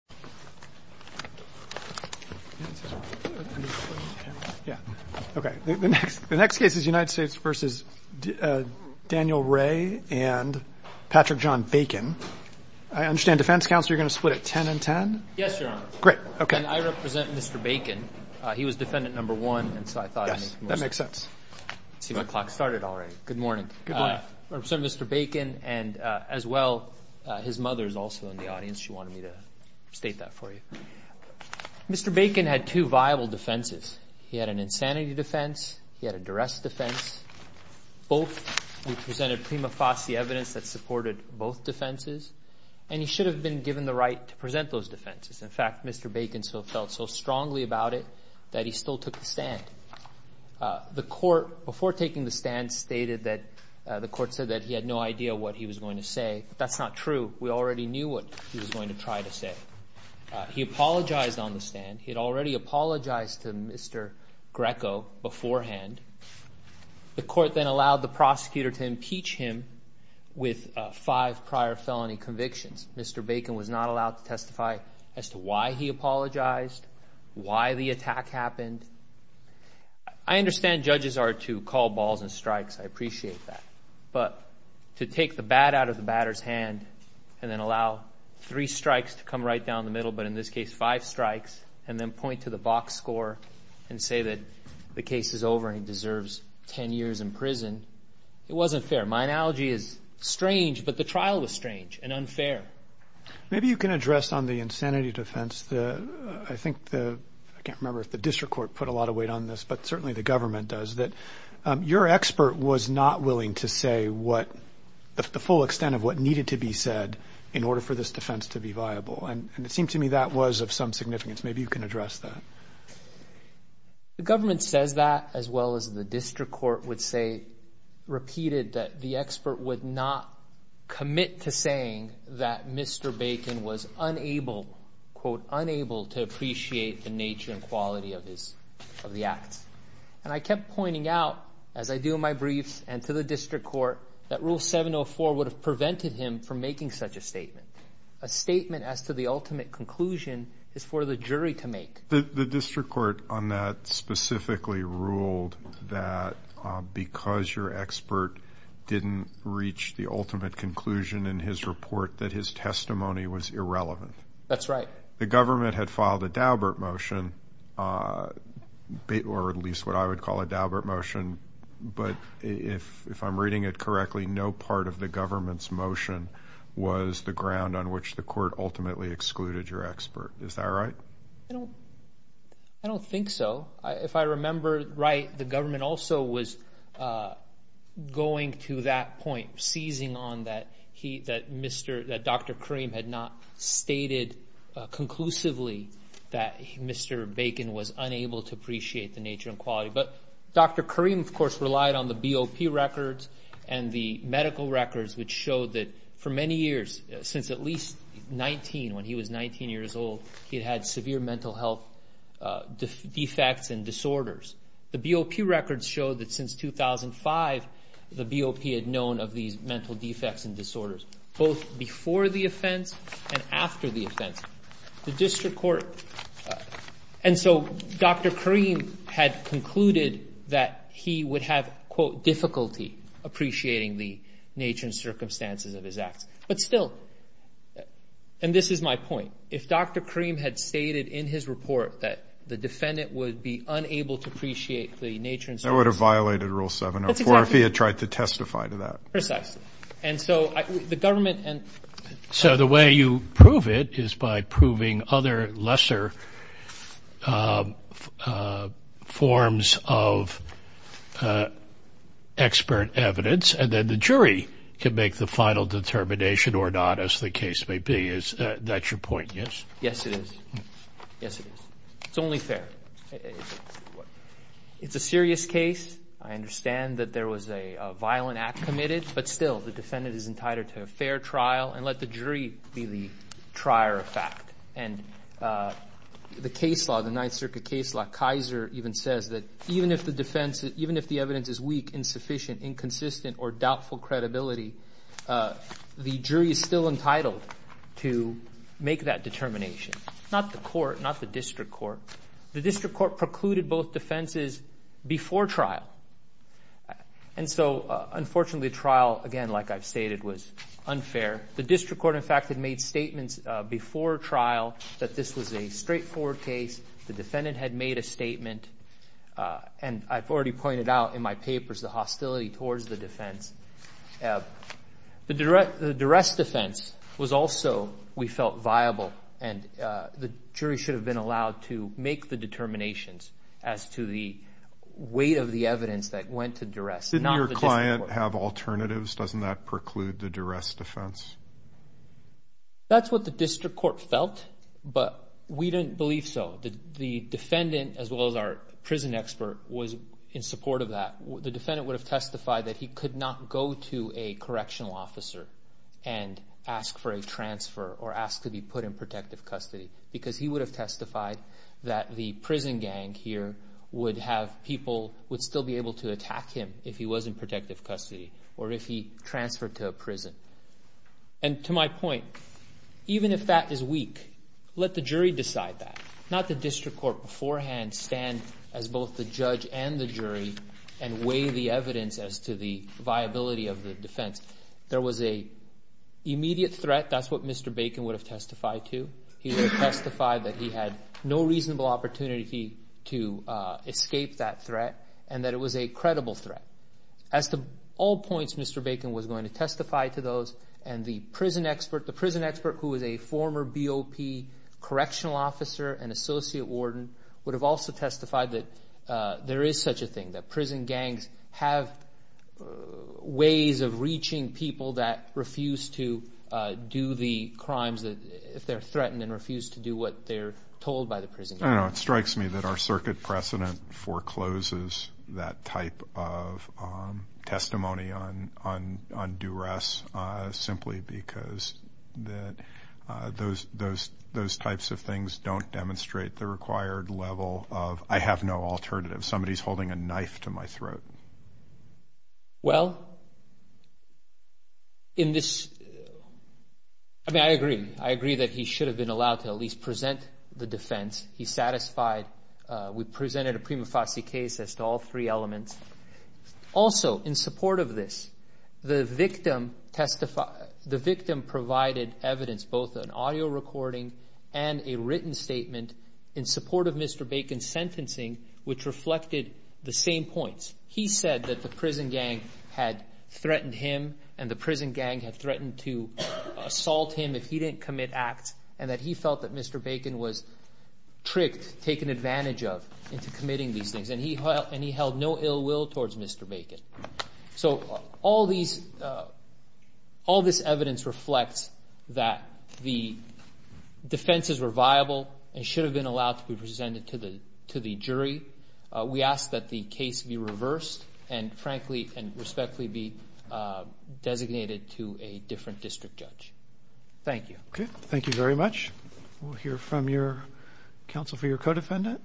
and Patrick John Bacon. I understand, Defense Counsel, you're going to split it 10-10? Yes, Your Honor. Great. Okay. And I represent Mr. Bacon. He was defendant number one, and so I thought I'd make the most of it. Yes, that makes sense. I see my clock started already. Good morning. Good morning. I represent Mr. Bacon, and as well, his mother is also in the audience. She wanted me to say hello to her. Good morning. Good morning. Let me state that for you. Mr. Bacon had two viable defenses. He had an insanity defense. He had a duress defense. Both represented prima facie evidence that supported both defenses, and he should have been given the right to present those defenses. In fact, Mr. Bacon felt so strongly about it that he still took the stand. The court, before taking the stand, stated that the court said that he had no idea what he was going to say. That's not true. We already knew what he was going to try to say. He apologized on the stand. He had already apologized to Mr. Greco beforehand. The court then allowed the prosecutor to impeach him with five prior felony convictions. Mr. Bacon was not allowed to testify as to why he apologized, why the attack happened. I understand judges are to call balls and strikes. I appreciate that. But to take the bat out of the batter's hand and then allow three strikes to come right down the middle, but in this case five strikes, and then point to the box score and say that the case is over and he deserves ten years in prison, it wasn't fair. My analogy is strange, but the trial was strange and unfair. Maybe you can address on the insanity defense, I think the, I can't remember if the district court put a lot of weight on this, but certainly the government does, that your expert was not willing to say what, the full extent of what needed to be said in order for this defense to be viable. It seemed to me that was of some significance. Maybe you can address that. The government says that as well as the district court would say, repeated that the expert would not commit to saying that Mr. Bacon was unable, quote, unable to appreciate the nature and quality of the acts. And I kept pointing out, as I do in my briefs and to the district court, that rule 704 would have prevented him from making such a statement. A statement as to the ultimate conclusion is for the jury to make. The district court on that specifically ruled that because your expert didn't reach the ultimate conclusion in his report that his testimony was irrelevant. That's right. The government had filed a Daubert motion, or at least what I would call a Daubert motion, but if I'm reading it correctly, no part of the government's motion was the ground on which the court ultimately excluded your expert. Is that right? I don't think so. If I remember right, the government also was going to that point, seizing on that Dr. Karim had not stated conclusively that Mr. Bacon was unable to appreciate the nature and quality. But Dr. Karim, of course, relied on the BOP records and the medical records, which showed that for many years, since at least 19, when he was 19 years old, he had had severe mental health defects and disorders. The BOP records show that since 2005, the BOP had known of these mental defects and disorders, both before the offense and after the offense. The district court, and so Dr. Karim had concluded that he would have, quote, difficulty appreciating the nature and circumstances of his acts. But still, and this is my point, if Dr. Karim had stated in his report that the defendant would be unable to appreciate the nature and circumstances. That would have violated Rule 704 if he had tried to testify to that. Precisely. And so the government and. So the way you prove it is by proving other lesser forms of expert evidence, and then the jury can make the final determination or not, as the case may be. That's your point, yes? Yes, it is. Yes, it is. It's only fair. It's a serious case. I understand that there was a violent act committed. But still, the defendant is entitled to a fair trial and let the jury be the trier of fact. And the case law, the Ninth Circuit case law, Kaiser even says that even if the defense, even if the evidence is weak, insufficient, inconsistent, or doubtful credibility, the jury is still entitled to make that determination. Not the court, not the district court. The district court precluded both defenses before trial. And so, unfortunately, trial, again, like I've stated, was unfair. The district court, in fact, had made statements before trial that this was a straightforward case. The defendant had made a statement. And I've already pointed out in my papers the hostility towards the defense. The duress defense was also, we felt, viable. And the jury should have been allowed to make the determinations as to the weight of the evidence that went to duress. Did your client have alternatives? Doesn't that preclude the duress defense? That's what the district court felt, but we didn't believe so. The defendant, as well as our prison expert, was in support of that. The defendant would have testified that he could not go to a correctional officer and ask for a transfer or ask to be put in protective custody because he would have testified that the prison gang here would have people, would still be able to attack him if he was in protective custody or if he transferred to a prison. And to my point, even if that is weak, let the jury decide that, not the district court beforehand stand as both the judge and the jury and weigh the evidence as to the viability of the defense. There was an immediate threat. That's what Mr. Bacon would have testified to. He would have testified that he had no reasonable opportunity to escape that threat and that it was a credible threat. As to all points, Mr. Bacon was going to testify to those, and the prison expert, the prison expert who is a former BOP correctional officer and associate warden would have also testified that there is such a thing, that prison gangs have ways of reaching people that refuse to do the crimes if they're threatened and refuse to do what they're told by the prison gang. I don't know. It strikes me that our circuit precedent forecloses that type of testimony on duress simply because those types of things don't demonstrate the required level of I have no alternative. Somebody's holding a knife to my throat. Well, in this, I mean, I agree. I agree that he should have been allowed to at least present the defense. He satisfied. We presented a prima facie case as to all three elements. Also, in support of this, the victim provided evidence, both an audio recording and a written statement in support of Mr. Bacon's sentencing, which reflected the same points. He said that the prison gang had threatened him and the prison gang had threatened to assault him if he didn't commit acts and that he felt that Mr. Bacon was tricked, taken advantage of into committing these things, and he held no ill will towards Mr. Bacon. So all this evidence reflects that the defenses were viable and should have been allowed to be presented to the jury. We ask that the case be reversed and, frankly and respectfully, be designated to a different district judge. Thank you. Okay. Thank you very much. We'll hear from your counsel for your co-defendant.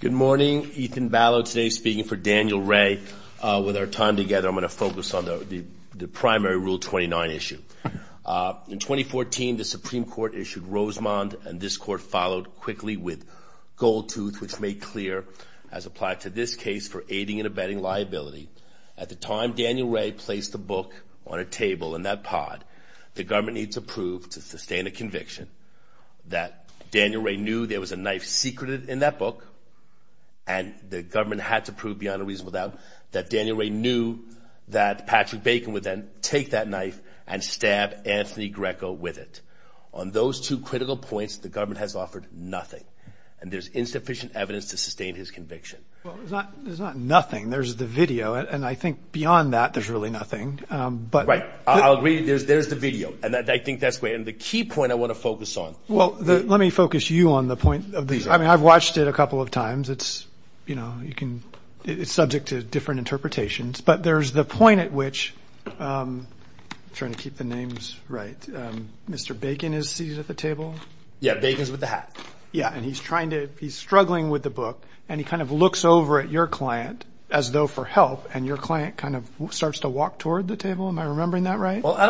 Good morning. Ethan Ballot today speaking for Daniel Ray. With our time together, I'm going to focus on the primary Rule 29 issue. In 2014, the Supreme Court issued Rosemond, and this court followed quickly with Gold Tooth, which made clear, as applied to this case, for aiding and abetting liability. At the time Daniel Ray placed the book on a table in that pod, the government needs to prove to sustain a conviction that Daniel Ray knew there was a knife secret in that book, and the government had to prove beyond a reasonable doubt that Daniel Ray knew that Patrick Bacon would then take that knife and stab Anthony Greco with it. On those two critical points, the government has offered nothing, and there's insufficient evidence to sustain his conviction. Well, there's not nothing. There's the video, and I think beyond that there's really nothing. Right. I'll agree there's the video, and I think that's great. And the key point I want to focus on. Well, let me focus you on the point of these. I mean, I've watched it a couple of times. It's, you know, it's subject to different interpretations, but there's the point at which I'm trying to keep the names right. Mr. Bacon is seated at the table. Yeah, Bacon's with the hat. Yeah, and he's struggling with the book, and he kind of looks over at your client as though for help, and your client kind of starts to walk toward the table. Am I remembering that right? Well, I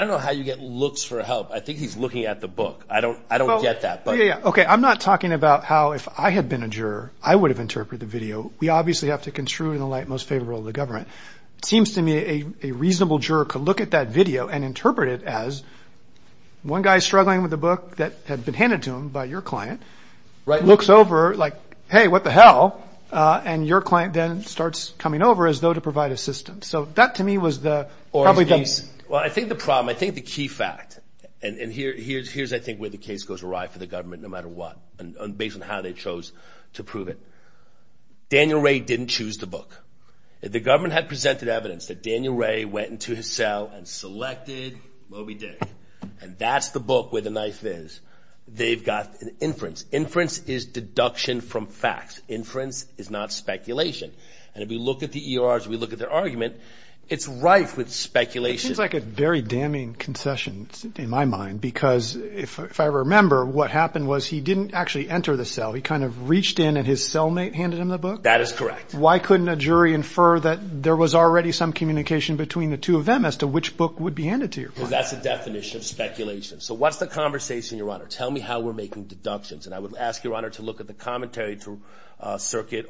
don't know how you get looks for help. I think he's looking at the book. I don't get that. Okay, I'm not talking about how if I had been a juror, I would have interpreted the video. We obviously have to construe it in the light most favorable of the government. It seems to me a reasonable juror could look at that video and interpret it as one guy's struggling with a book that had been handed to him by your client, looks over like, hey, what the hell, and your client then starts coming over as though to provide assistance. So that to me was the problem. Well, I think the problem, I think the key fact, and here's I think where the case goes awry for the government no matter what, based on how they chose to prove it. Daniel Ray didn't choose the book. The government had presented evidence that Daniel Ray went into his cell and selected Moby Dick, and that's the book where the knife is. They've got an inference. Inference is deduction from facts. Inference is not speculation. And if we look at the ERs, we look at their argument, it's rife with speculation. It seems like a very damning concession in my mind, because if I remember, what happened was he didn't actually enter the cell. He kind of reached in and his cellmate handed him the book? That is correct. Why couldn't a jury infer that there was already some communication between the two of them as to which book would be handed to your client? Because that's the definition of speculation. So what's the conversation, Your Honor? Tell me how we're making deductions, and I would ask Your Honor to look at the commentary through circuit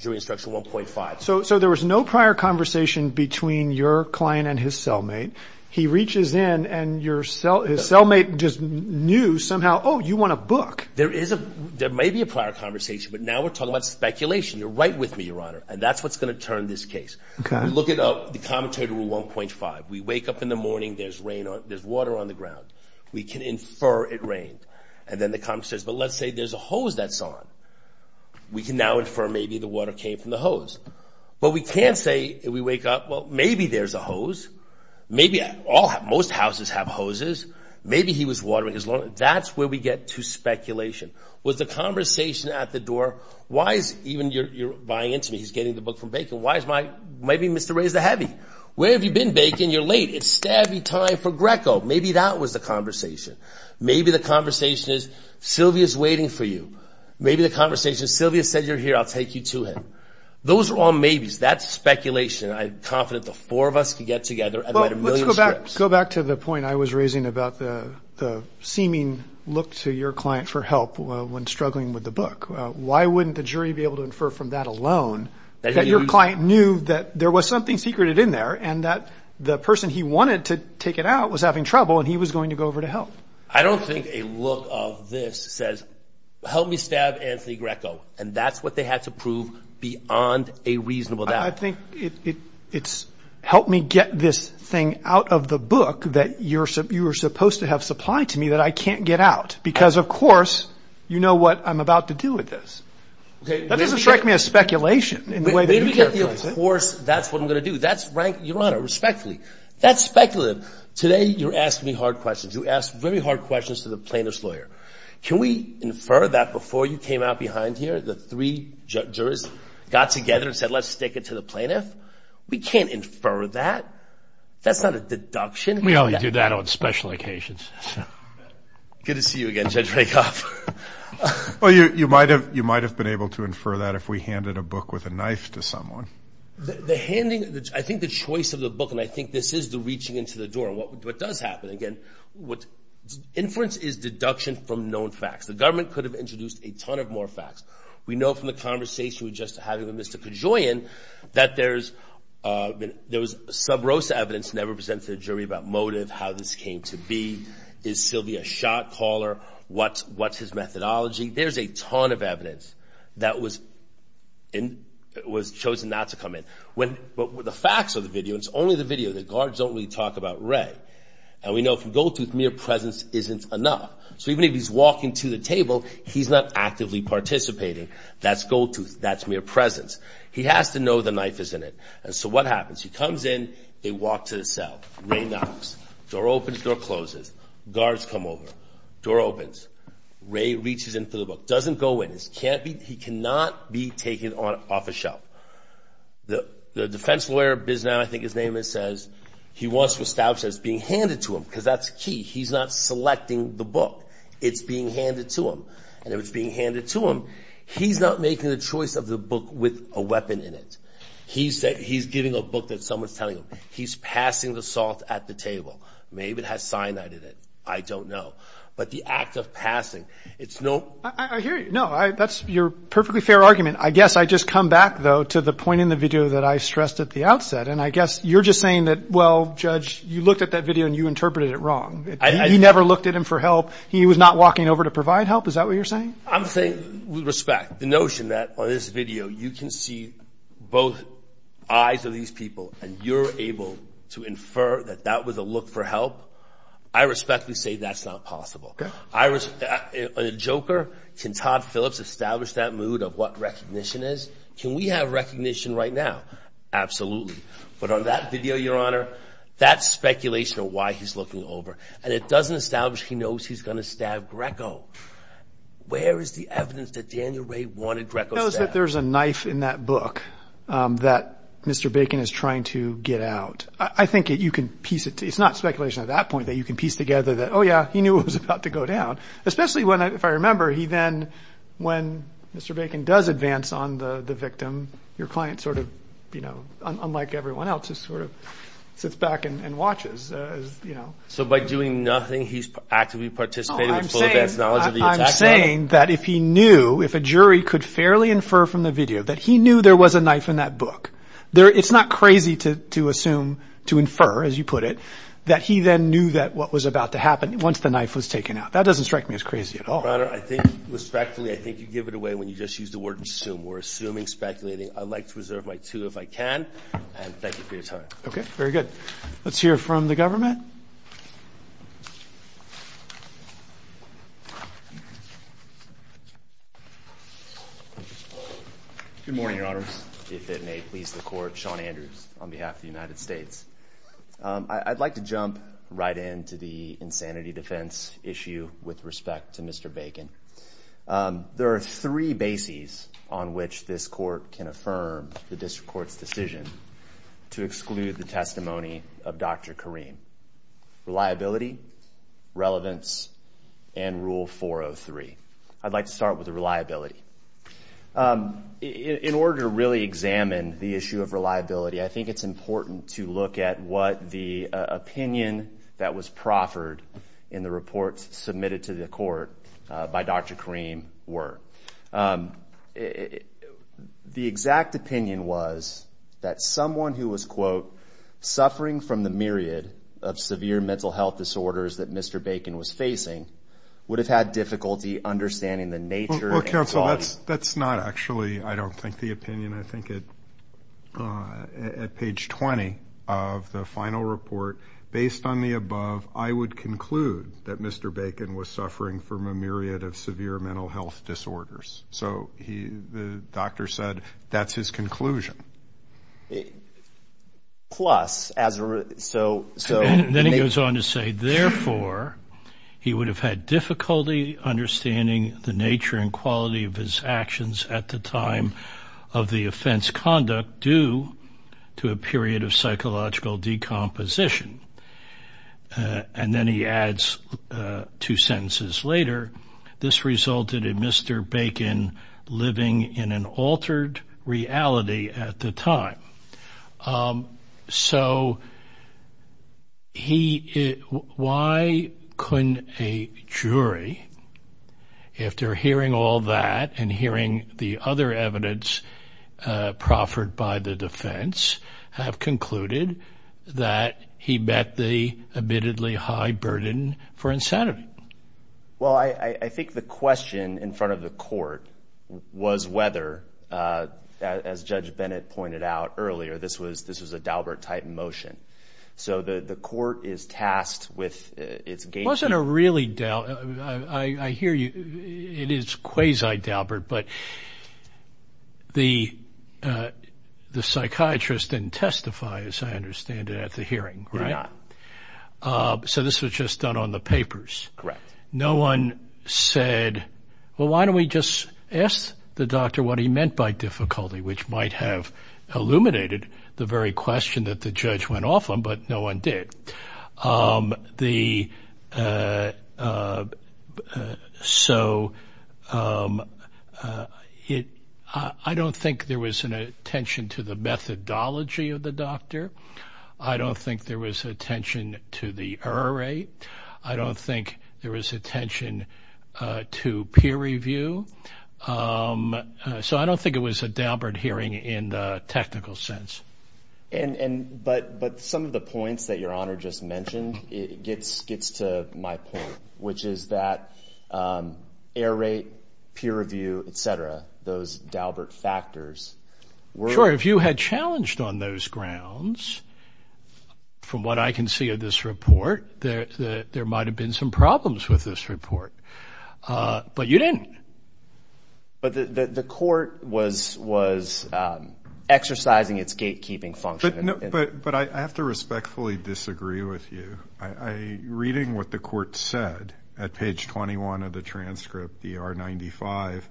jury instruction 1.5. So there was no prior conversation between your client and his cellmate. He reaches in, and his cellmate just knew somehow, oh, you want a book. There may be a prior conversation, but now we're talking about speculation. You're right with me, Your Honor, and that's what's going to turn this case. Look at the commentary to 1.5. We wake up in the morning. There's water on the ground. We can infer it rained. And then the commenter says, but let's say there's a hose that's on. We can now infer maybe the water came from the hose. But we can't say if we wake up, well, maybe there's a hose. Maybe most houses have hoses. Maybe he was watering his lawn. That's where we get to speculation. Was the conversation at the door, why is even your client, he's getting the book from Bacon, why is my, maybe Mr. Ray's the heavy. Where have you been, Bacon? You're late. It's savvy time for Greco. Maybe that was the conversation. Maybe the conversation is Sylvia's waiting for you. Maybe the conversation is Sylvia said you're here. I'll take you to him. Those are all maybes. That's speculation. I'm confident the four of us could get together and write a million scripts. Go back to the point I was raising about the seeming look to your client for help when struggling with the book. Why wouldn't the jury be able to infer from that alone that your client knew that there was something secreted in there and that the person he wanted to take it out was having trouble and he was going to go over to help? I don't think a look of this says help me stab Anthony Greco. And that's what they had to prove beyond a reasonable doubt. I think it's help me get this thing out of the book that you were supposed to have supplied to me that I can't get out. Because, of course, you know what I'm about to do with this. That doesn't strike me as speculation in the way that you characterize it. Of course, that's what I'm going to do. Your Honor, respectfully, that's speculative. Today you're asking me hard questions. You ask very hard questions to the plaintiff's lawyer. Can we infer that before you came out behind here the three jurors got together and said, let's stick it to the plaintiff? We can't infer that. That's not a deduction. We only do that on special occasions. Good to see you again, Judge Rakoff. Well, you might have been able to infer that if we handed a book with a knife to someone. The handing, I think the choice of the book, and I think this is the reaching into the door. What does happen? Again, inference is deduction from known facts. The government could have introduced a ton of more facts. We know from the conversation we just had with Mr. Kajoyan that there was some gross evidence never presented to the jury about motive, how this came to be. Is Sylvia a shot caller? What's his methodology? There's a ton of evidence that was chosen not to come in. But the facts of the video, and it's only the video, the guards don't really talk about Ray. And we know from Goldtooth mere presence isn't enough. So even if he's walking to the table, he's not actively participating. That's Goldtooth. That's mere presence. He has to know the knife is in it. And so what happens? He comes in. They walk to the cell. Ray knocks. Door opens. Door closes. Guards come over. Door opens. Ray reaches into the book. Doesn't go in. He cannot be taken off a shelf. The defense lawyer, I think his name is, says he wants to establish that it's being handed to him. Because that's key. He's not selecting the book. It's being handed to him. And if it's being handed to him, he's not making the choice of the book with a weapon in it. He's giving a book that someone's telling him. He's passing the salt at the table. Maybe it has cyanide in it. I don't know. But the act of passing, it's no ---- I hear you. No, that's your perfectly fair argument. I guess I just come back, though, to the point in the video that I stressed at the outset. And I guess you're just saying that, well, Judge, you looked at that video and you interpreted it wrong. He never looked at him for help. He was not walking over to provide help. Is that what you're saying? I'm saying, with respect, the notion that on this video you can see both eyes of these people and you're able to infer that that was a look for help, I respectfully say that's not possible. A joker, can Todd Phillips establish that mood of what recognition is? Can we have recognition right now? Absolutely. But on that video, Your Honor, that's speculation of why he's looking over. And it doesn't establish he knows he's going to stab Greco. Where is the evidence that Daniel Ray wanted Greco stabbed? There's a knife in that book that Mr. Bacon is trying to get out. I think you can piece it together. It's not speculation at that point that you can piece together that, oh, yeah, he knew it was about to go down. Especially if I remember, he then, when Mr. Bacon does advance on the victim, your client sort of, unlike everyone else, just sort of sits back and watches. So by doing nothing, he's actively participating with full advance knowledge of the attack? I'm saying that if he knew, if a jury could fairly infer from the video that he knew there was a knife in that book, it's not crazy to assume, to infer, as you put it, that he then knew what was about to happen once the knife was taken out. That doesn't strike me as crazy at all. Your Honor, I think respectfully, I think you give it away when you just use the word assume. We're assuming, speculating. I'd like to reserve my two if I can, and thank you for your time. Okay, very good. Let's hear from the government. Good morning, Your Honor. If it may please the Court, Sean Andrews on behalf of the United States. I'd like to jump right into the insanity defense issue with respect to Mr. Bacon. There are three bases on which this Court can affirm the district court's decision to exclude the testimony of Dr. Kareem. Reliability, relevance, and Rule 403. I'd like to start with reliability. In order to really examine the issue of reliability, I think it's important to look at what the opinion that was proffered in the report submitted to the Court by Dr. Kareem were. The exact opinion was that someone who was, quote, suffering from the myriad of severe mental health disorders that Mr. Bacon was facing would have had difficulty understanding the nature and quality. Well, counsel, that's not actually, I don't think, the opinion. I think at page 20 of the final report, based on the above, I would conclude that Mr. Bacon was suffering from a myriad of severe mental health disorders. So the doctor said that's his conclusion. Then he goes on to say, therefore, he would have had difficulty understanding the nature and quality of his actions at the time of the offense conduct due to a period of psychological decomposition. And then he adds two sentences later, this resulted in Mr. Bacon living in an altered reality at the time. So he why couldn't a jury, if they're hearing all that and hearing the other evidence proffered by the defense, have concluded that he met the admittedly high burden for insanity? Well, I think the question in front of the court was whether, as Judge Bennett pointed out earlier, this was a Daubert-type motion. So the court is tasked with its gatekeeper. It wasn't a really Daubert. I hear you. It is quasi-Daubert, but the psychiatrist didn't testify, as I understand it, at the hearing, right? He did not. So this was just done on the papers. Correct. No one said, well, why don't we just ask the doctor what he meant by difficulty, which might have illuminated the very question that the judge went off on, but no one did. So I don't think there was an attention to the methodology of the doctor. I don't think there was attention to the error rate. I don't think there was attention to peer review. So I don't think it was a Daubert hearing in the technical sense. But some of the points that Your Honor just mentioned gets to my point, which is that error rate, peer review, et cetera, those Daubert factors were – I'm sorry, if you had challenged on those grounds, from what I can see of this report, there might have been some problems with this report. But you didn't. But the court was exercising its gatekeeping function. But I have to respectfully disagree with you. Reading what the court said at page 21 of the transcript, the R95,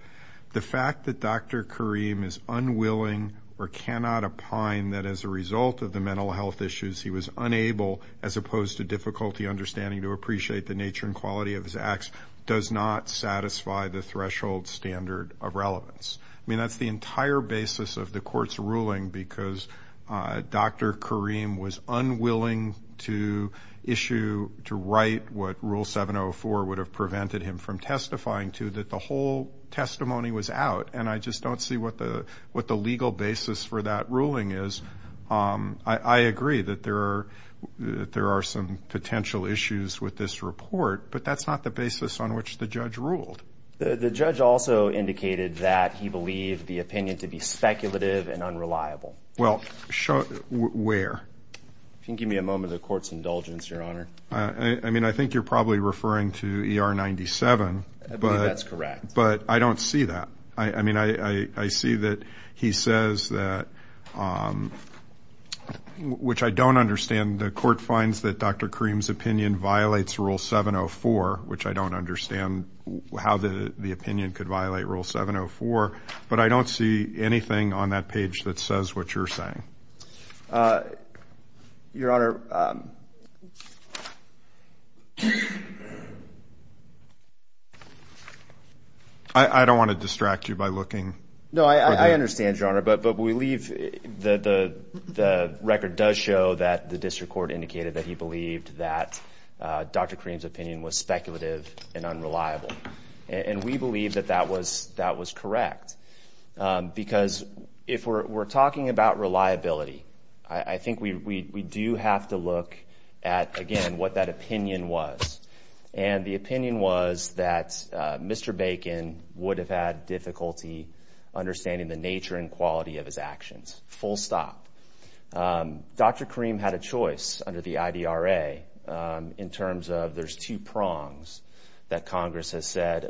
the fact that Dr. Karim is unwilling or cannot opine that as a result of the mental health issues he was unable, as opposed to difficulty understanding to appreciate the nature and quality of his acts, does not satisfy the threshold standard of relevance. I mean, that's the entire basis of the court's ruling, because Dr. Karim was unwilling to issue, to write what Rule 704 would have prevented him from testifying to, that the whole testimony was out, and I just don't see what the legal basis for that ruling is. I agree that there are some potential issues with this report, but that's not the basis on which the judge ruled. The judge also indicated that he believed the opinion to be speculative and unreliable. Well, where? If you can give me a moment of the court's indulgence, Your Honor. I mean, I think you're probably referring to ER 97. I believe that's correct. But I don't see that. I mean, I see that he says that, which I don't understand, the court finds that Dr. Karim's opinion violates Rule 704, which I don't understand how the opinion could violate Rule 704, but I don't see anything on that page that says what you're saying. Your Honor. I don't want to distract you by looking. No, I understand, Your Honor, but we leave, the record does show that the district court indicated that he believed that Dr. Karim's opinion was speculative and unreliable, and we believe that that was correct, because if we're talking about reliability, I think we do have to look at, again, what that opinion was. And the opinion was that Mr. Bacon would have had difficulty understanding the nature and quality of his actions. Full stop. Dr. Karim had a choice under the IDRA in terms of there's two prongs that Congress has said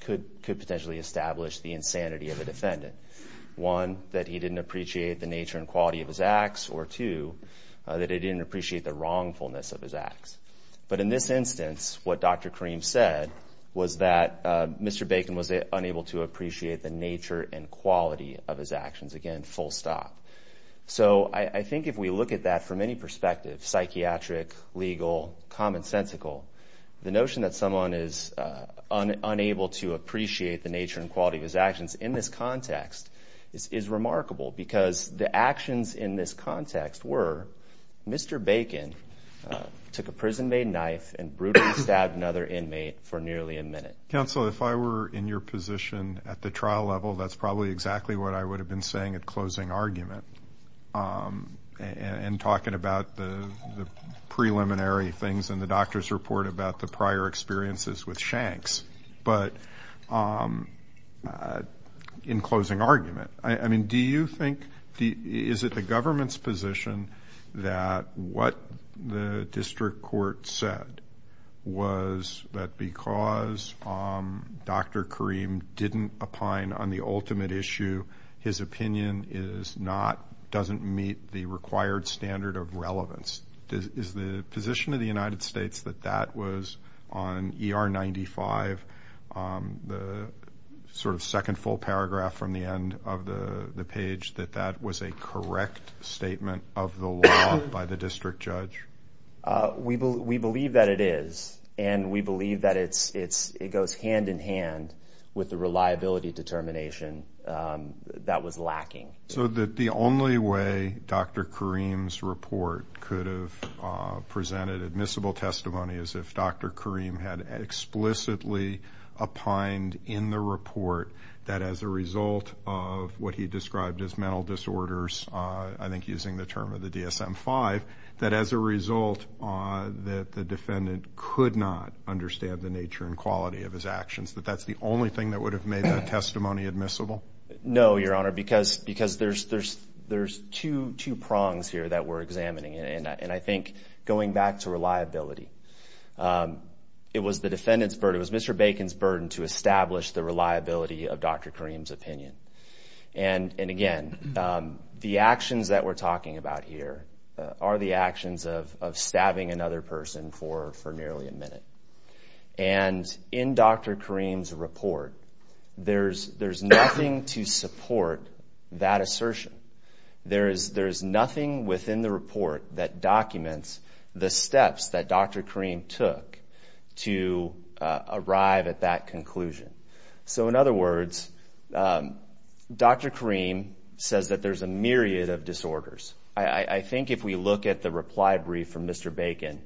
could potentially establish the insanity of a defendant. One, that he didn't appreciate the nature and quality of his acts, or two, that he didn't appreciate the wrongfulness of his acts. But in this instance, what Dr. Karim said was that Mr. Bacon was unable to appreciate the nature and quality of his actions. Again, full stop. So I think if we look at that from any perspective, psychiatric, legal, commonsensical, the notion that someone is unable to appreciate the nature and quality of his actions in this context is remarkable, because the actions in this context were Mr. Bacon took a prison-made knife and brutally stabbed another inmate for nearly a minute. Counsel, if I were in your position at the trial level, that's probably exactly what I would have been saying at closing argument, and talking about the preliminary things in the doctor's report about the prior experiences with Shanks. But in closing argument, I mean, do you think, is it the government's position that what the district court said was that because Dr. Karim didn't opine on the ultimate issue, his opinion is not, doesn't meet the required standard of relevance? Is the position of the United States that that was on ER 95, the sort of second full paragraph from the end of the page, that that was a correct statement of the law by the district judge? We believe that it is, and we believe that it goes hand in hand with the reliability determination that was lacking. So that the only way Dr. Karim's report could have presented admissible testimony is if Dr. Karim had explicitly opined in the report that as a result of what he described as mental disorders, I think using the term of the DSM-5, that as a result that the defendant could not understand the nature and quality of his actions, that that's the only thing that would have made that testimony admissible? No, Your Honor, because there's two prongs here that we're examining, and I think going back to reliability, it was the defendant's burden, it was Mr. Bacon's burden to establish the reliability of Dr. Karim's opinion. And again, the actions that we're talking about here are the actions of stabbing another person for nearly a minute. And in Dr. Karim's report, there's nothing to support that assertion. There is nothing within the report that documents the steps that Dr. Karim took to arrive at that conclusion. So in other words, Dr. Karim says that there's a myriad of disorders. I think if we look at the reply brief from Mr. Bacon,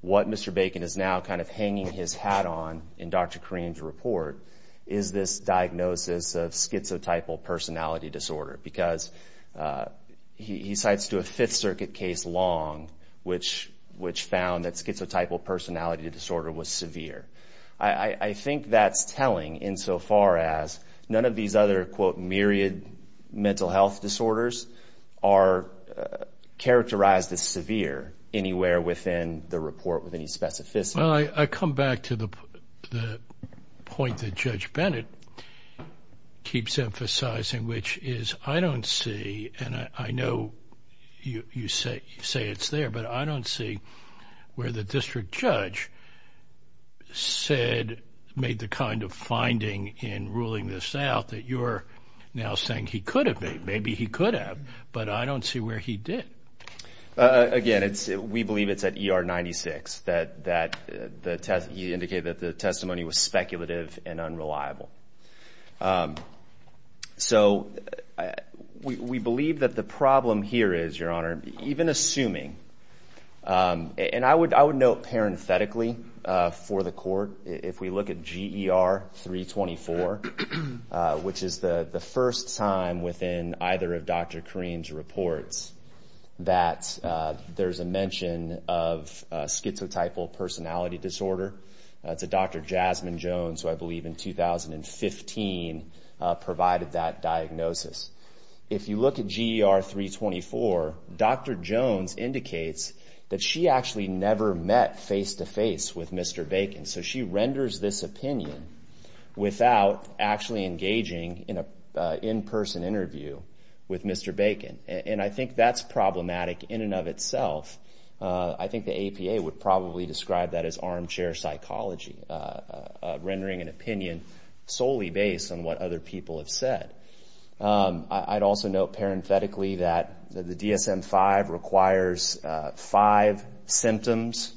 what Mr. Bacon is now kind of hanging his hat on in Dr. Karim's report is this diagnosis of schizotypal personality disorder because he cites to a Fifth Circuit case long which found that schizotypal personality disorder was severe. I think that's telling insofar as none of these other, quote, myriad mental health disorders are characterized as severe anywhere within the report with any specificity. Well, I come back to the point that Judge Bennett keeps emphasizing, which is I don't see, and I know you say it's there, but I don't see where the district judge made the kind of finding in ruling this out that you're now saying he could have made. Maybe he could have, but I don't see where he did. Again, we believe it's at ER 96 that he indicated that the testimony was speculative and unreliable. So we believe that the problem here is, Your Honor, even assuming, and I would note parenthetically for the court, if we look at GER 324, which is the first time within either of Dr. Karim's reports that there's a mention of schizotypal personality disorder. It's a Dr. Jasmine Jones who I believe in 2015 provided that diagnosis. If you look at GER 324, Dr. Jones indicates that she actually never met face-to-face with Mr. Bacon. So she renders this opinion without actually engaging in an in-person interview with Mr. Bacon, and I think that's problematic in and of itself. I think the APA would probably describe that as armchair psychology, rendering an opinion solely based on what other people have said. I'd also note parenthetically that the DSM-5 requires five symptoms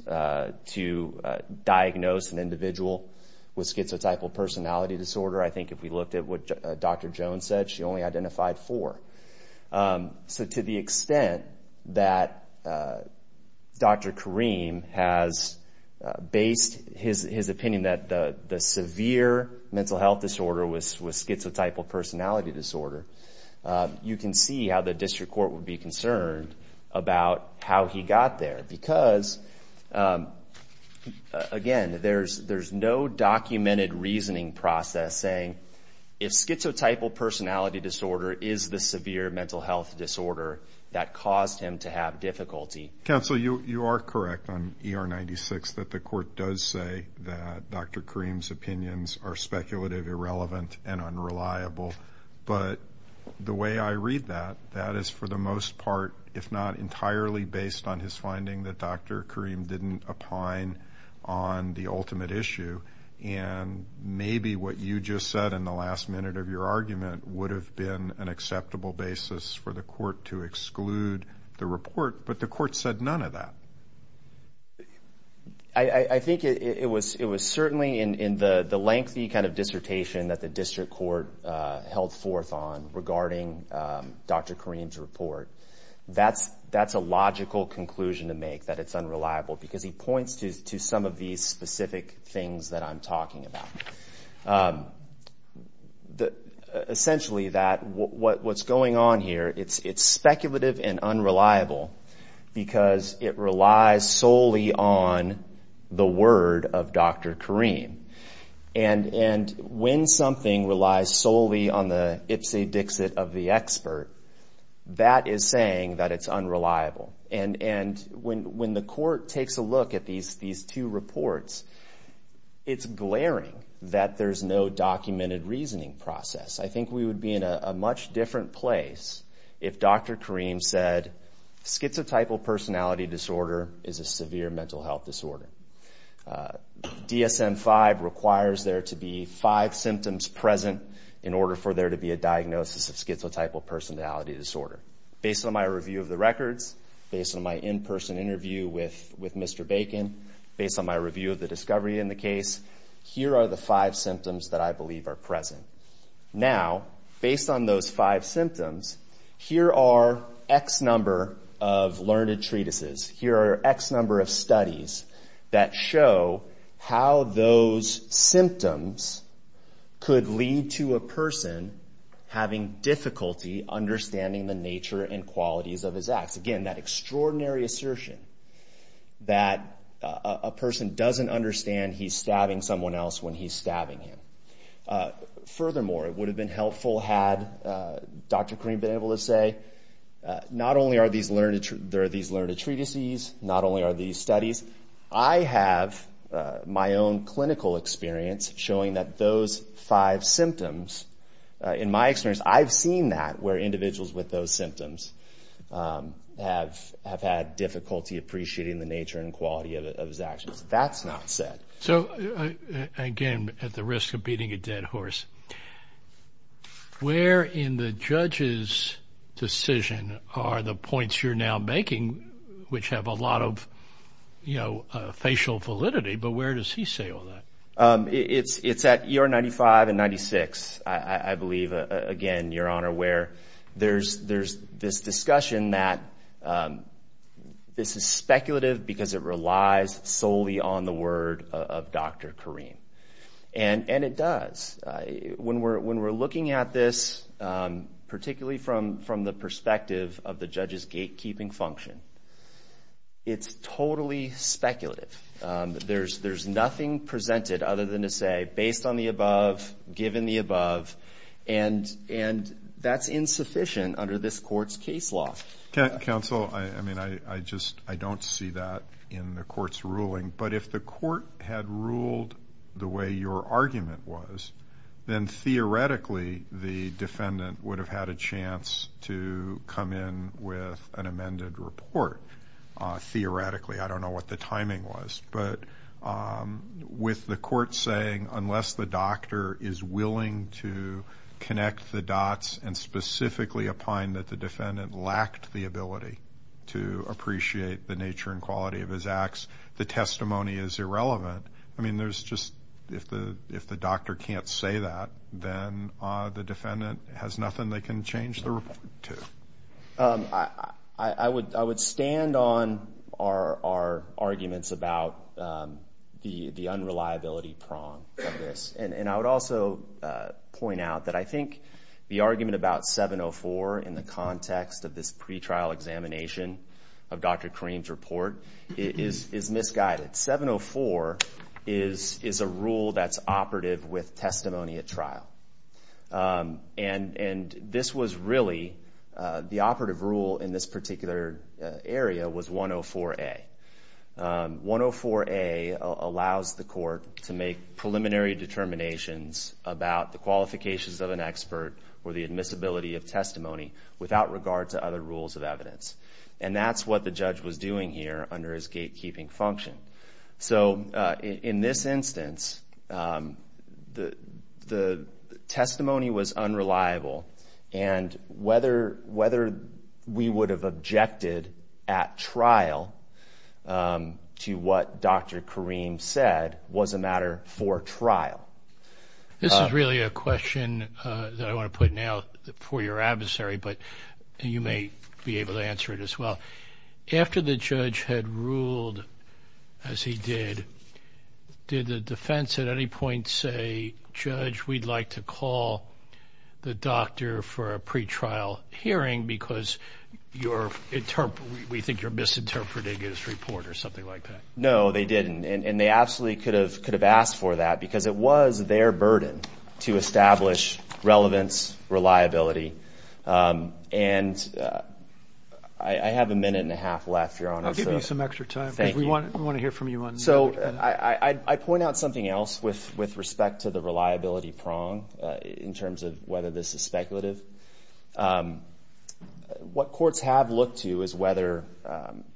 to diagnose an individual with schizotypal personality disorder. I think if we looked at what Dr. Jones said, she only identified four. So to the extent that Dr. Karim has based his opinion that the severe mental health disorder was schizotypal personality disorder, you can see how the district court would be concerned about how he got there. Because, again, there's no documented reasoning process saying, if schizotypal personality disorder is the severe mental health disorder that caused him to have difficulty. Counsel, you are correct on ER 96 that the court does say that Dr. Karim's opinions are speculative, irrelevant, and unreliable. But the way I read that, that is for the most part, if not entirely, based on his finding that Dr. Karim didn't opine on the ultimate issue. And maybe what you just said in the last minute of your argument would have been an acceptable basis for the court to exclude the report, but the court said none of that. I think it was certainly in the lengthy kind of dissertation that the district court held forth on regarding Dr. Karim's report. That's a logical conclusion to make, that it's unreliable, because he points to some of these specific things that I'm talking about. Essentially, what's going on here, it's speculative and unreliable, because it relies solely on the word of Dr. Karim. And when something relies solely on the ipsy-dixit of the expert, that is saying that it's unreliable. And when the court takes a look at these two reports, it's glaring that there's no documented reasoning process. I think we would be in a much different place if Dr. Karim said, schizotypal personality disorder is a severe mental health disorder. DSM-5 requires there to be five symptoms present in order for there to be a diagnosis of schizotypal personality disorder. Based on my review of the records, based on my in-person interview with Mr. Bacon, based on my review of the discovery in the case, here are the five symptoms that I believe are present. Now, based on those five symptoms, here are X number of learned treatises, here are X number of studies that show how those symptoms could lead to a person having difficulty understanding the nature and qualities of his acts. Again, that extraordinary assertion that a person doesn't understand he's stabbing someone else when he's stabbing him. Furthermore, it would have been helpful had Dr. Karim been able to say, not only are there these learned treatises, not only are these studies, I have my own clinical experience showing that those five symptoms, in my experience, I've seen that where individuals with those symptoms have had difficulty appreciating the nature and quality of his actions. That's not said. So, again, at the risk of beating a dead horse, where in the judge's decision are the points you're now making, which have a lot of facial validity, but where does he say all that? It's at ER 95 and 96, I believe, again, Your Honor, where there's this discussion that this is speculative because it relies solely on the word of Dr. Karim. And it does. When we're looking at this, particularly from the perspective of the judge's gatekeeping function, it's totally speculative. There's nothing presented other than to say, based on the above, given the above, and that's insufficient under this court's case law. Counsel, I mean, I just don't see that in the court's ruling. But if the court had ruled the way your argument was, then theoretically the defendant would have had a chance to come in with an amended report. Theoretically. I don't know what the timing was. But with the court saying, unless the doctor is willing to connect the dots and specifically opine that the defendant lacked the ability to appreciate the nature and quality of his acts, the testimony is irrelevant, I mean, there's just, if the doctor can't say that, then the defendant has nothing they can change the report to. I would stand on our arguments about the unreliability prong of this. And I would also point out that I think the argument about 704 in the context of this pretrial examination of Dr. Karim's report is misguided. 704 is a rule that's operative with testimony at trial. And this was really, the operative rule in this particular area was 104A. 104A allows the court to make preliminary determinations about the qualifications of an expert or the admissibility of testimony without regard to other rules of evidence. And that's what the judge was doing here under his gatekeeping function. So in this instance, the testimony was unreliable, and whether we would have objected at trial to what Dr. Karim said was a matter for trial. This is really a question that I want to put now for your adversary, but you may be able to answer it as well. After the judge had ruled as he did, did the defense at any point say, Judge, we'd like to call the doctor for a pretrial hearing because we think you're misinterpreting his report or something like that? No, they didn't. And they absolutely could have asked for that because it was their burden to establish relevance, reliability. And I have a minute and a half left, Your Honor. I'll give you some extra time because we want to hear from you on that. So I point out something else with respect to the reliability prong in terms of whether this is speculative. What courts have looked to is whether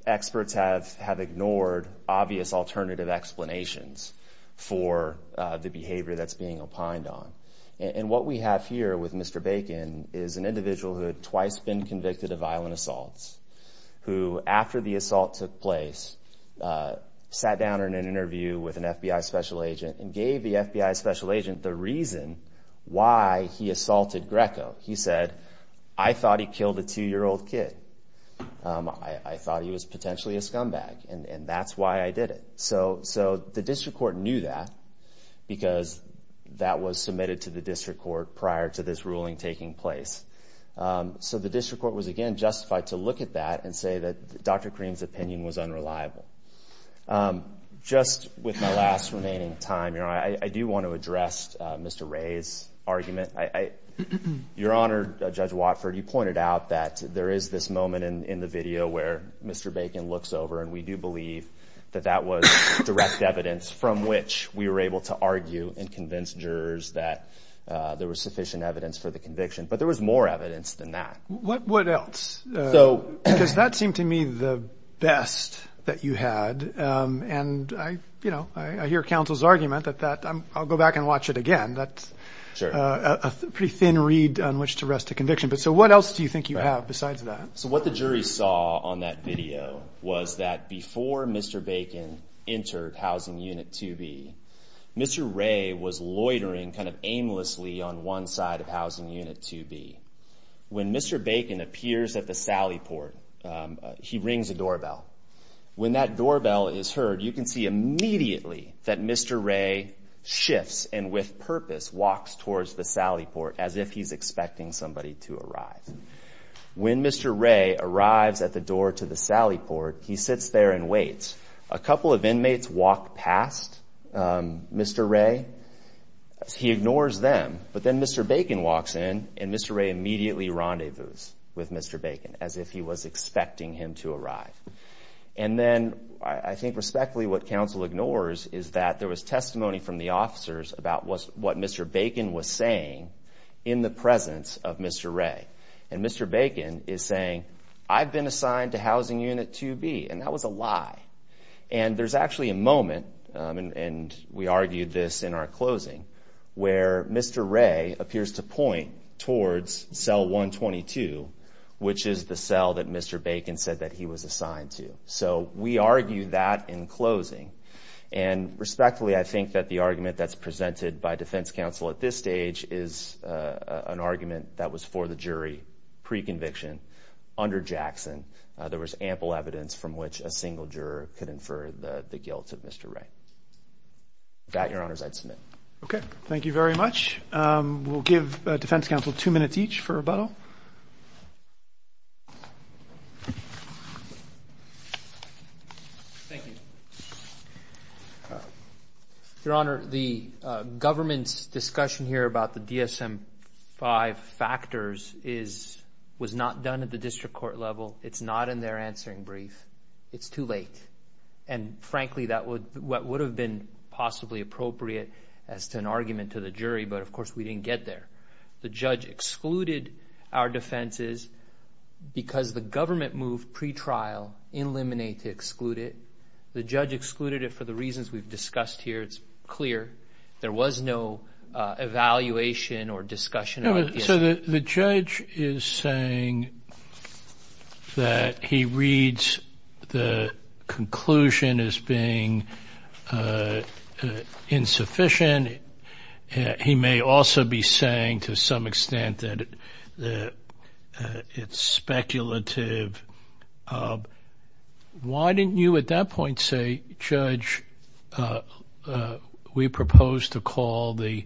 experts have ignored obvious alternative explanations for the behavior that's being opined on. And what we have here with Mr. Bacon is an individual who had twice been convicted of violent assaults, who, after the assault took place, sat down in an interview with an FBI special agent and gave the FBI special agent the reason why he assaulted Greco. He said, I thought he killed a two-year-old kid. I thought he was potentially a scumbag, and that's why I did it. So the district court knew that because that was submitted to the district court prior to this ruling taking place. So the district court was, again, justified to look at that and say that Dr. Kareem's opinion was unreliable. Just with my last remaining time, Your Honor, I do want to address Mr. Ray's argument. Your Honor, Judge Watford, you pointed out that there is this moment in the video where Mr. Bacon looks over, and we do believe that that was direct evidence from which we were able to argue and convince jurors that there was sufficient evidence for the conviction. But there was more evidence than that. What else? Because that seemed to me the best that you had. And, you know, I hear counsel's argument that I'll go back and watch it again. That's a pretty thin reed on which to rest a conviction. But so what else do you think you have besides that? So what the jury saw on that video was that before Mr. Bacon entered Housing Unit 2B, Mr. Ray was loitering kind of aimlessly on one side of Housing Unit 2B. When Mr. Bacon appears at the sally port, he rings a doorbell. When that doorbell is heard, you can see immediately that Mr. Ray shifts and with purpose walks towards the sally port as if he's expecting somebody to arrive. When Mr. Ray arrives at the door to the sally port, he sits there and waits. A couple of inmates walk past Mr. Ray. He ignores them. But then Mr. Bacon walks in and Mr. Ray immediately rendezvous with Mr. Bacon as if he was expecting him to arrive. And then I think respectfully what counsel ignores is that there was testimony from the officers about what Mr. Bacon was saying in the presence of Mr. Ray. And Mr. Bacon is saying, I've been assigned to Housing Unit 2B, and that was a lie. And there's actually a moment, and we argued this in our closing, where Mr. Ray appears to point towards cell 122, which is the cell that Mr. Bacon said that he was assigned to. So we argued that in closing. And respectfully, I think that the argument that's presented by defense counsel at this stage is an argument that was for the jury pre-conviction under Jackson. There was ample evidence from which a single juror could infer the guilt of Mr. Ray. With that, Your Honors, I'd submit. Okay. Thank you very much. We'll give defense counsel two minutes each for rebuttal. Thank you. Your Honor, the government's discussion here about the DSM-5 factors was not done at the district court level. It's not in their answering brief. It's too late. And frankly, that would have been possibly appropriate as to an argument to the jury, but of course we didn't get there. The judge excluded our defenses because the government moved pre-trial, eliminate to exclude it. The judge excluded it for the reasons we've discussed here. It's clear. There was no evaluation or discussion. So the judge is saying that he reads the conclusion as being insufficient. He may also be saying to some extent that it's speculative. Why didn't you at that point say, Judge, we propose to call the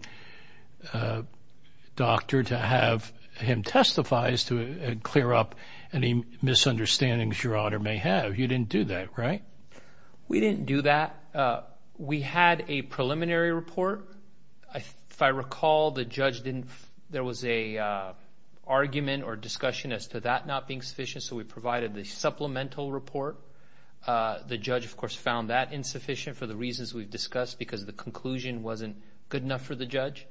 doctor to have him testify as to clear up any misunderstandings Your Honor may have. You didn't do that, right? We didn't do that. We had a preliminary report. If I recall, there was an argument or discussion as to that not being sufficient, so we provided the supplemental report. The judge, of course, found that insufficient for the reasons we've discussed because the conclusion wasn't good enough for the judge.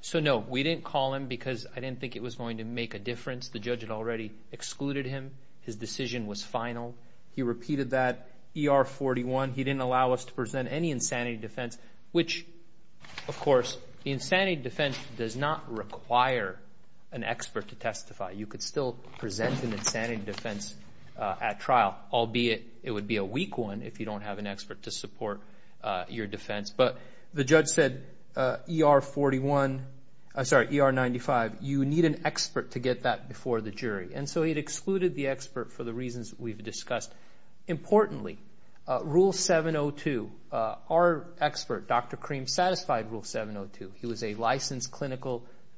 So no, we didn't call him because I didn't think it was going to make a difference. The judge had already excluded him. His decision was final. He repeated that ER-41. He didn't allow us to present any insanity defense, which, of course, the insanity defense does not require an expert to testify. You could still present an insanity defense at trial, albeit it would be a weak one if you don't have an expert to support your defense. But the judge said ER-91, you need an expert to get that before the jury. So he had excluded the expert for the reasons we've discussed. Importantly, Rule 702, our expert, Dr. Kareem, satisfied Rule 702. He was a licensed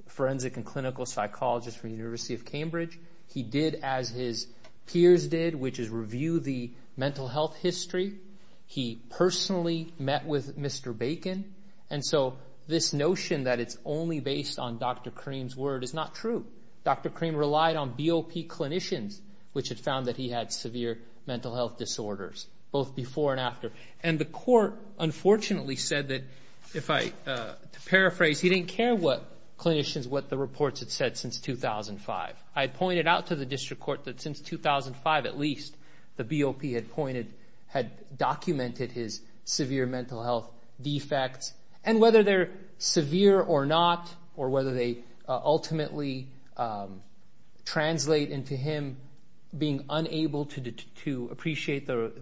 forensic and clinical psychologist from the University of Cambridge. He did as his peers did, which is review the mental health history. He personally met with Mr. Bacon, and so this notion that it's only based on Dr. Kareem's word is not true. Dr. Kareem relied on BOP clinicians, which had found that he had severe mental health disorders, both before and after. And the court, unfortunately, said that, to paraphrase, he didn't care what clinicians, what the reports had said since 2005. I had pointed out to the district court that since 2005, at least, the BOP had documented his severe mental health defects. And whether they're severe or not, or whether they ultimately translate into him being unable to appreciate the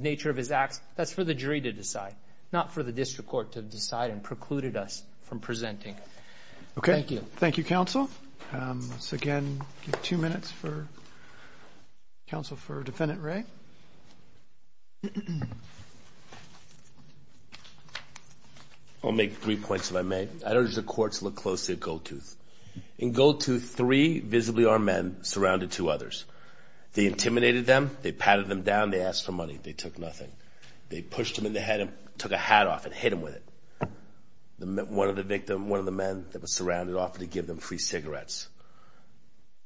nature of his acts, that's for the jury to decide, not for the district court to decide and precluded us from presenting. Thank you, counsel. Let's, again, give two minutes for counsel for Defendant Ray. I'll make three points if I may. I'd urge the court to look closely at Goldtooth. In Goldtooth, three visibly armed men surrounded two others. They intimidated them. They patted them down. They asked for money. They took nothing. They pushed them in the head and took a hat off and hit them with it. One of the men that was surrounded offered to give them free cigarettes.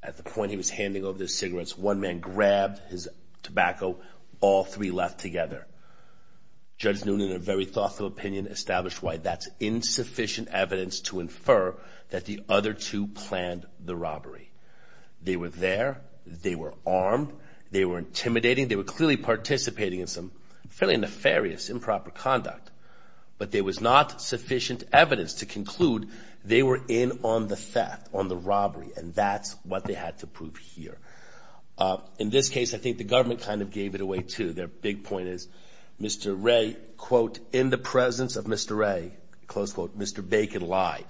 At the point he was handing over the cigarettes, one man grabbed his tobacco. All three left together. Judge Noonan, in a very thoughtful opinion, established why that's insufficient evidence to infer that the other two planned the robbery. They were there. They were armed. They were intimidating. They were clearly participating in some fairly nefarious improper conduct. But there was not sufficient evidence to conclude they were in on the theft, on the robbery, and that's what they had to prove here. In this case, I think the government kind of gave it away, too. Their big point is Mr. Ray, quote, in the presence of Mr. Ray, close quote, Mr. Bacon lied.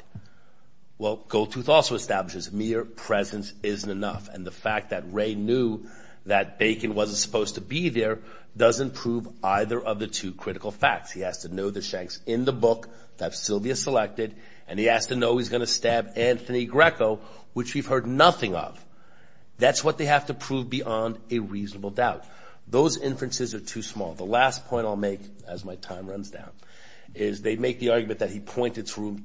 Well, Goldtooth also establishes mere presence isn't enough, and the fact that Ray knew that Bacon wasn't supposed to be there doesn't prove either of the two critical facts. He has to know the shanks in the book that Sylvia selected, and he has to know he's going to stab Anthony Greco, which we've heard nothing of. That's what they have to prove beyond a reasonable doubt. Those inferences are too small. The last point I'll make as my time runs down is they make the argument that he pointed to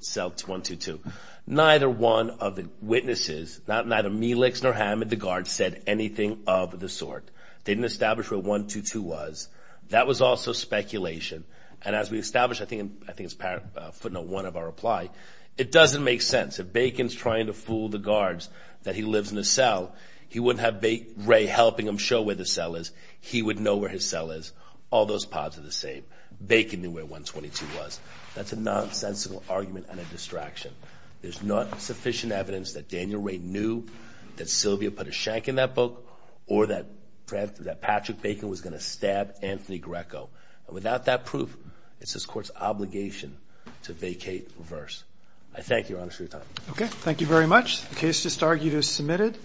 cell 122. Neither one of the witnesses, neither Melix nor Hammond, the guard, said anything of the sort. They didn't establish where 122 was. That was also speculation, and as we established, I think it's footnote one of our reply, it doesn't make sense. If Bacon's trying to fool the guards that he lives in a cell, he wouldn't have Ray helping him show where the cell is. He would know where his cell is. All those pods are the same. Bacon knew where 122 was. That's a nonsensical argument and a distraction. There's not sufficient evidence that Daniel Ray knew that Sylvia put a shank in that book or that Patrick Bacon was going to stab Anthony Greco. Without that proof, it's this Court's obligation to vacate reverse. I thank you, Your Honor, for your time. Okay. Thank you very much. The case just argued is submitted.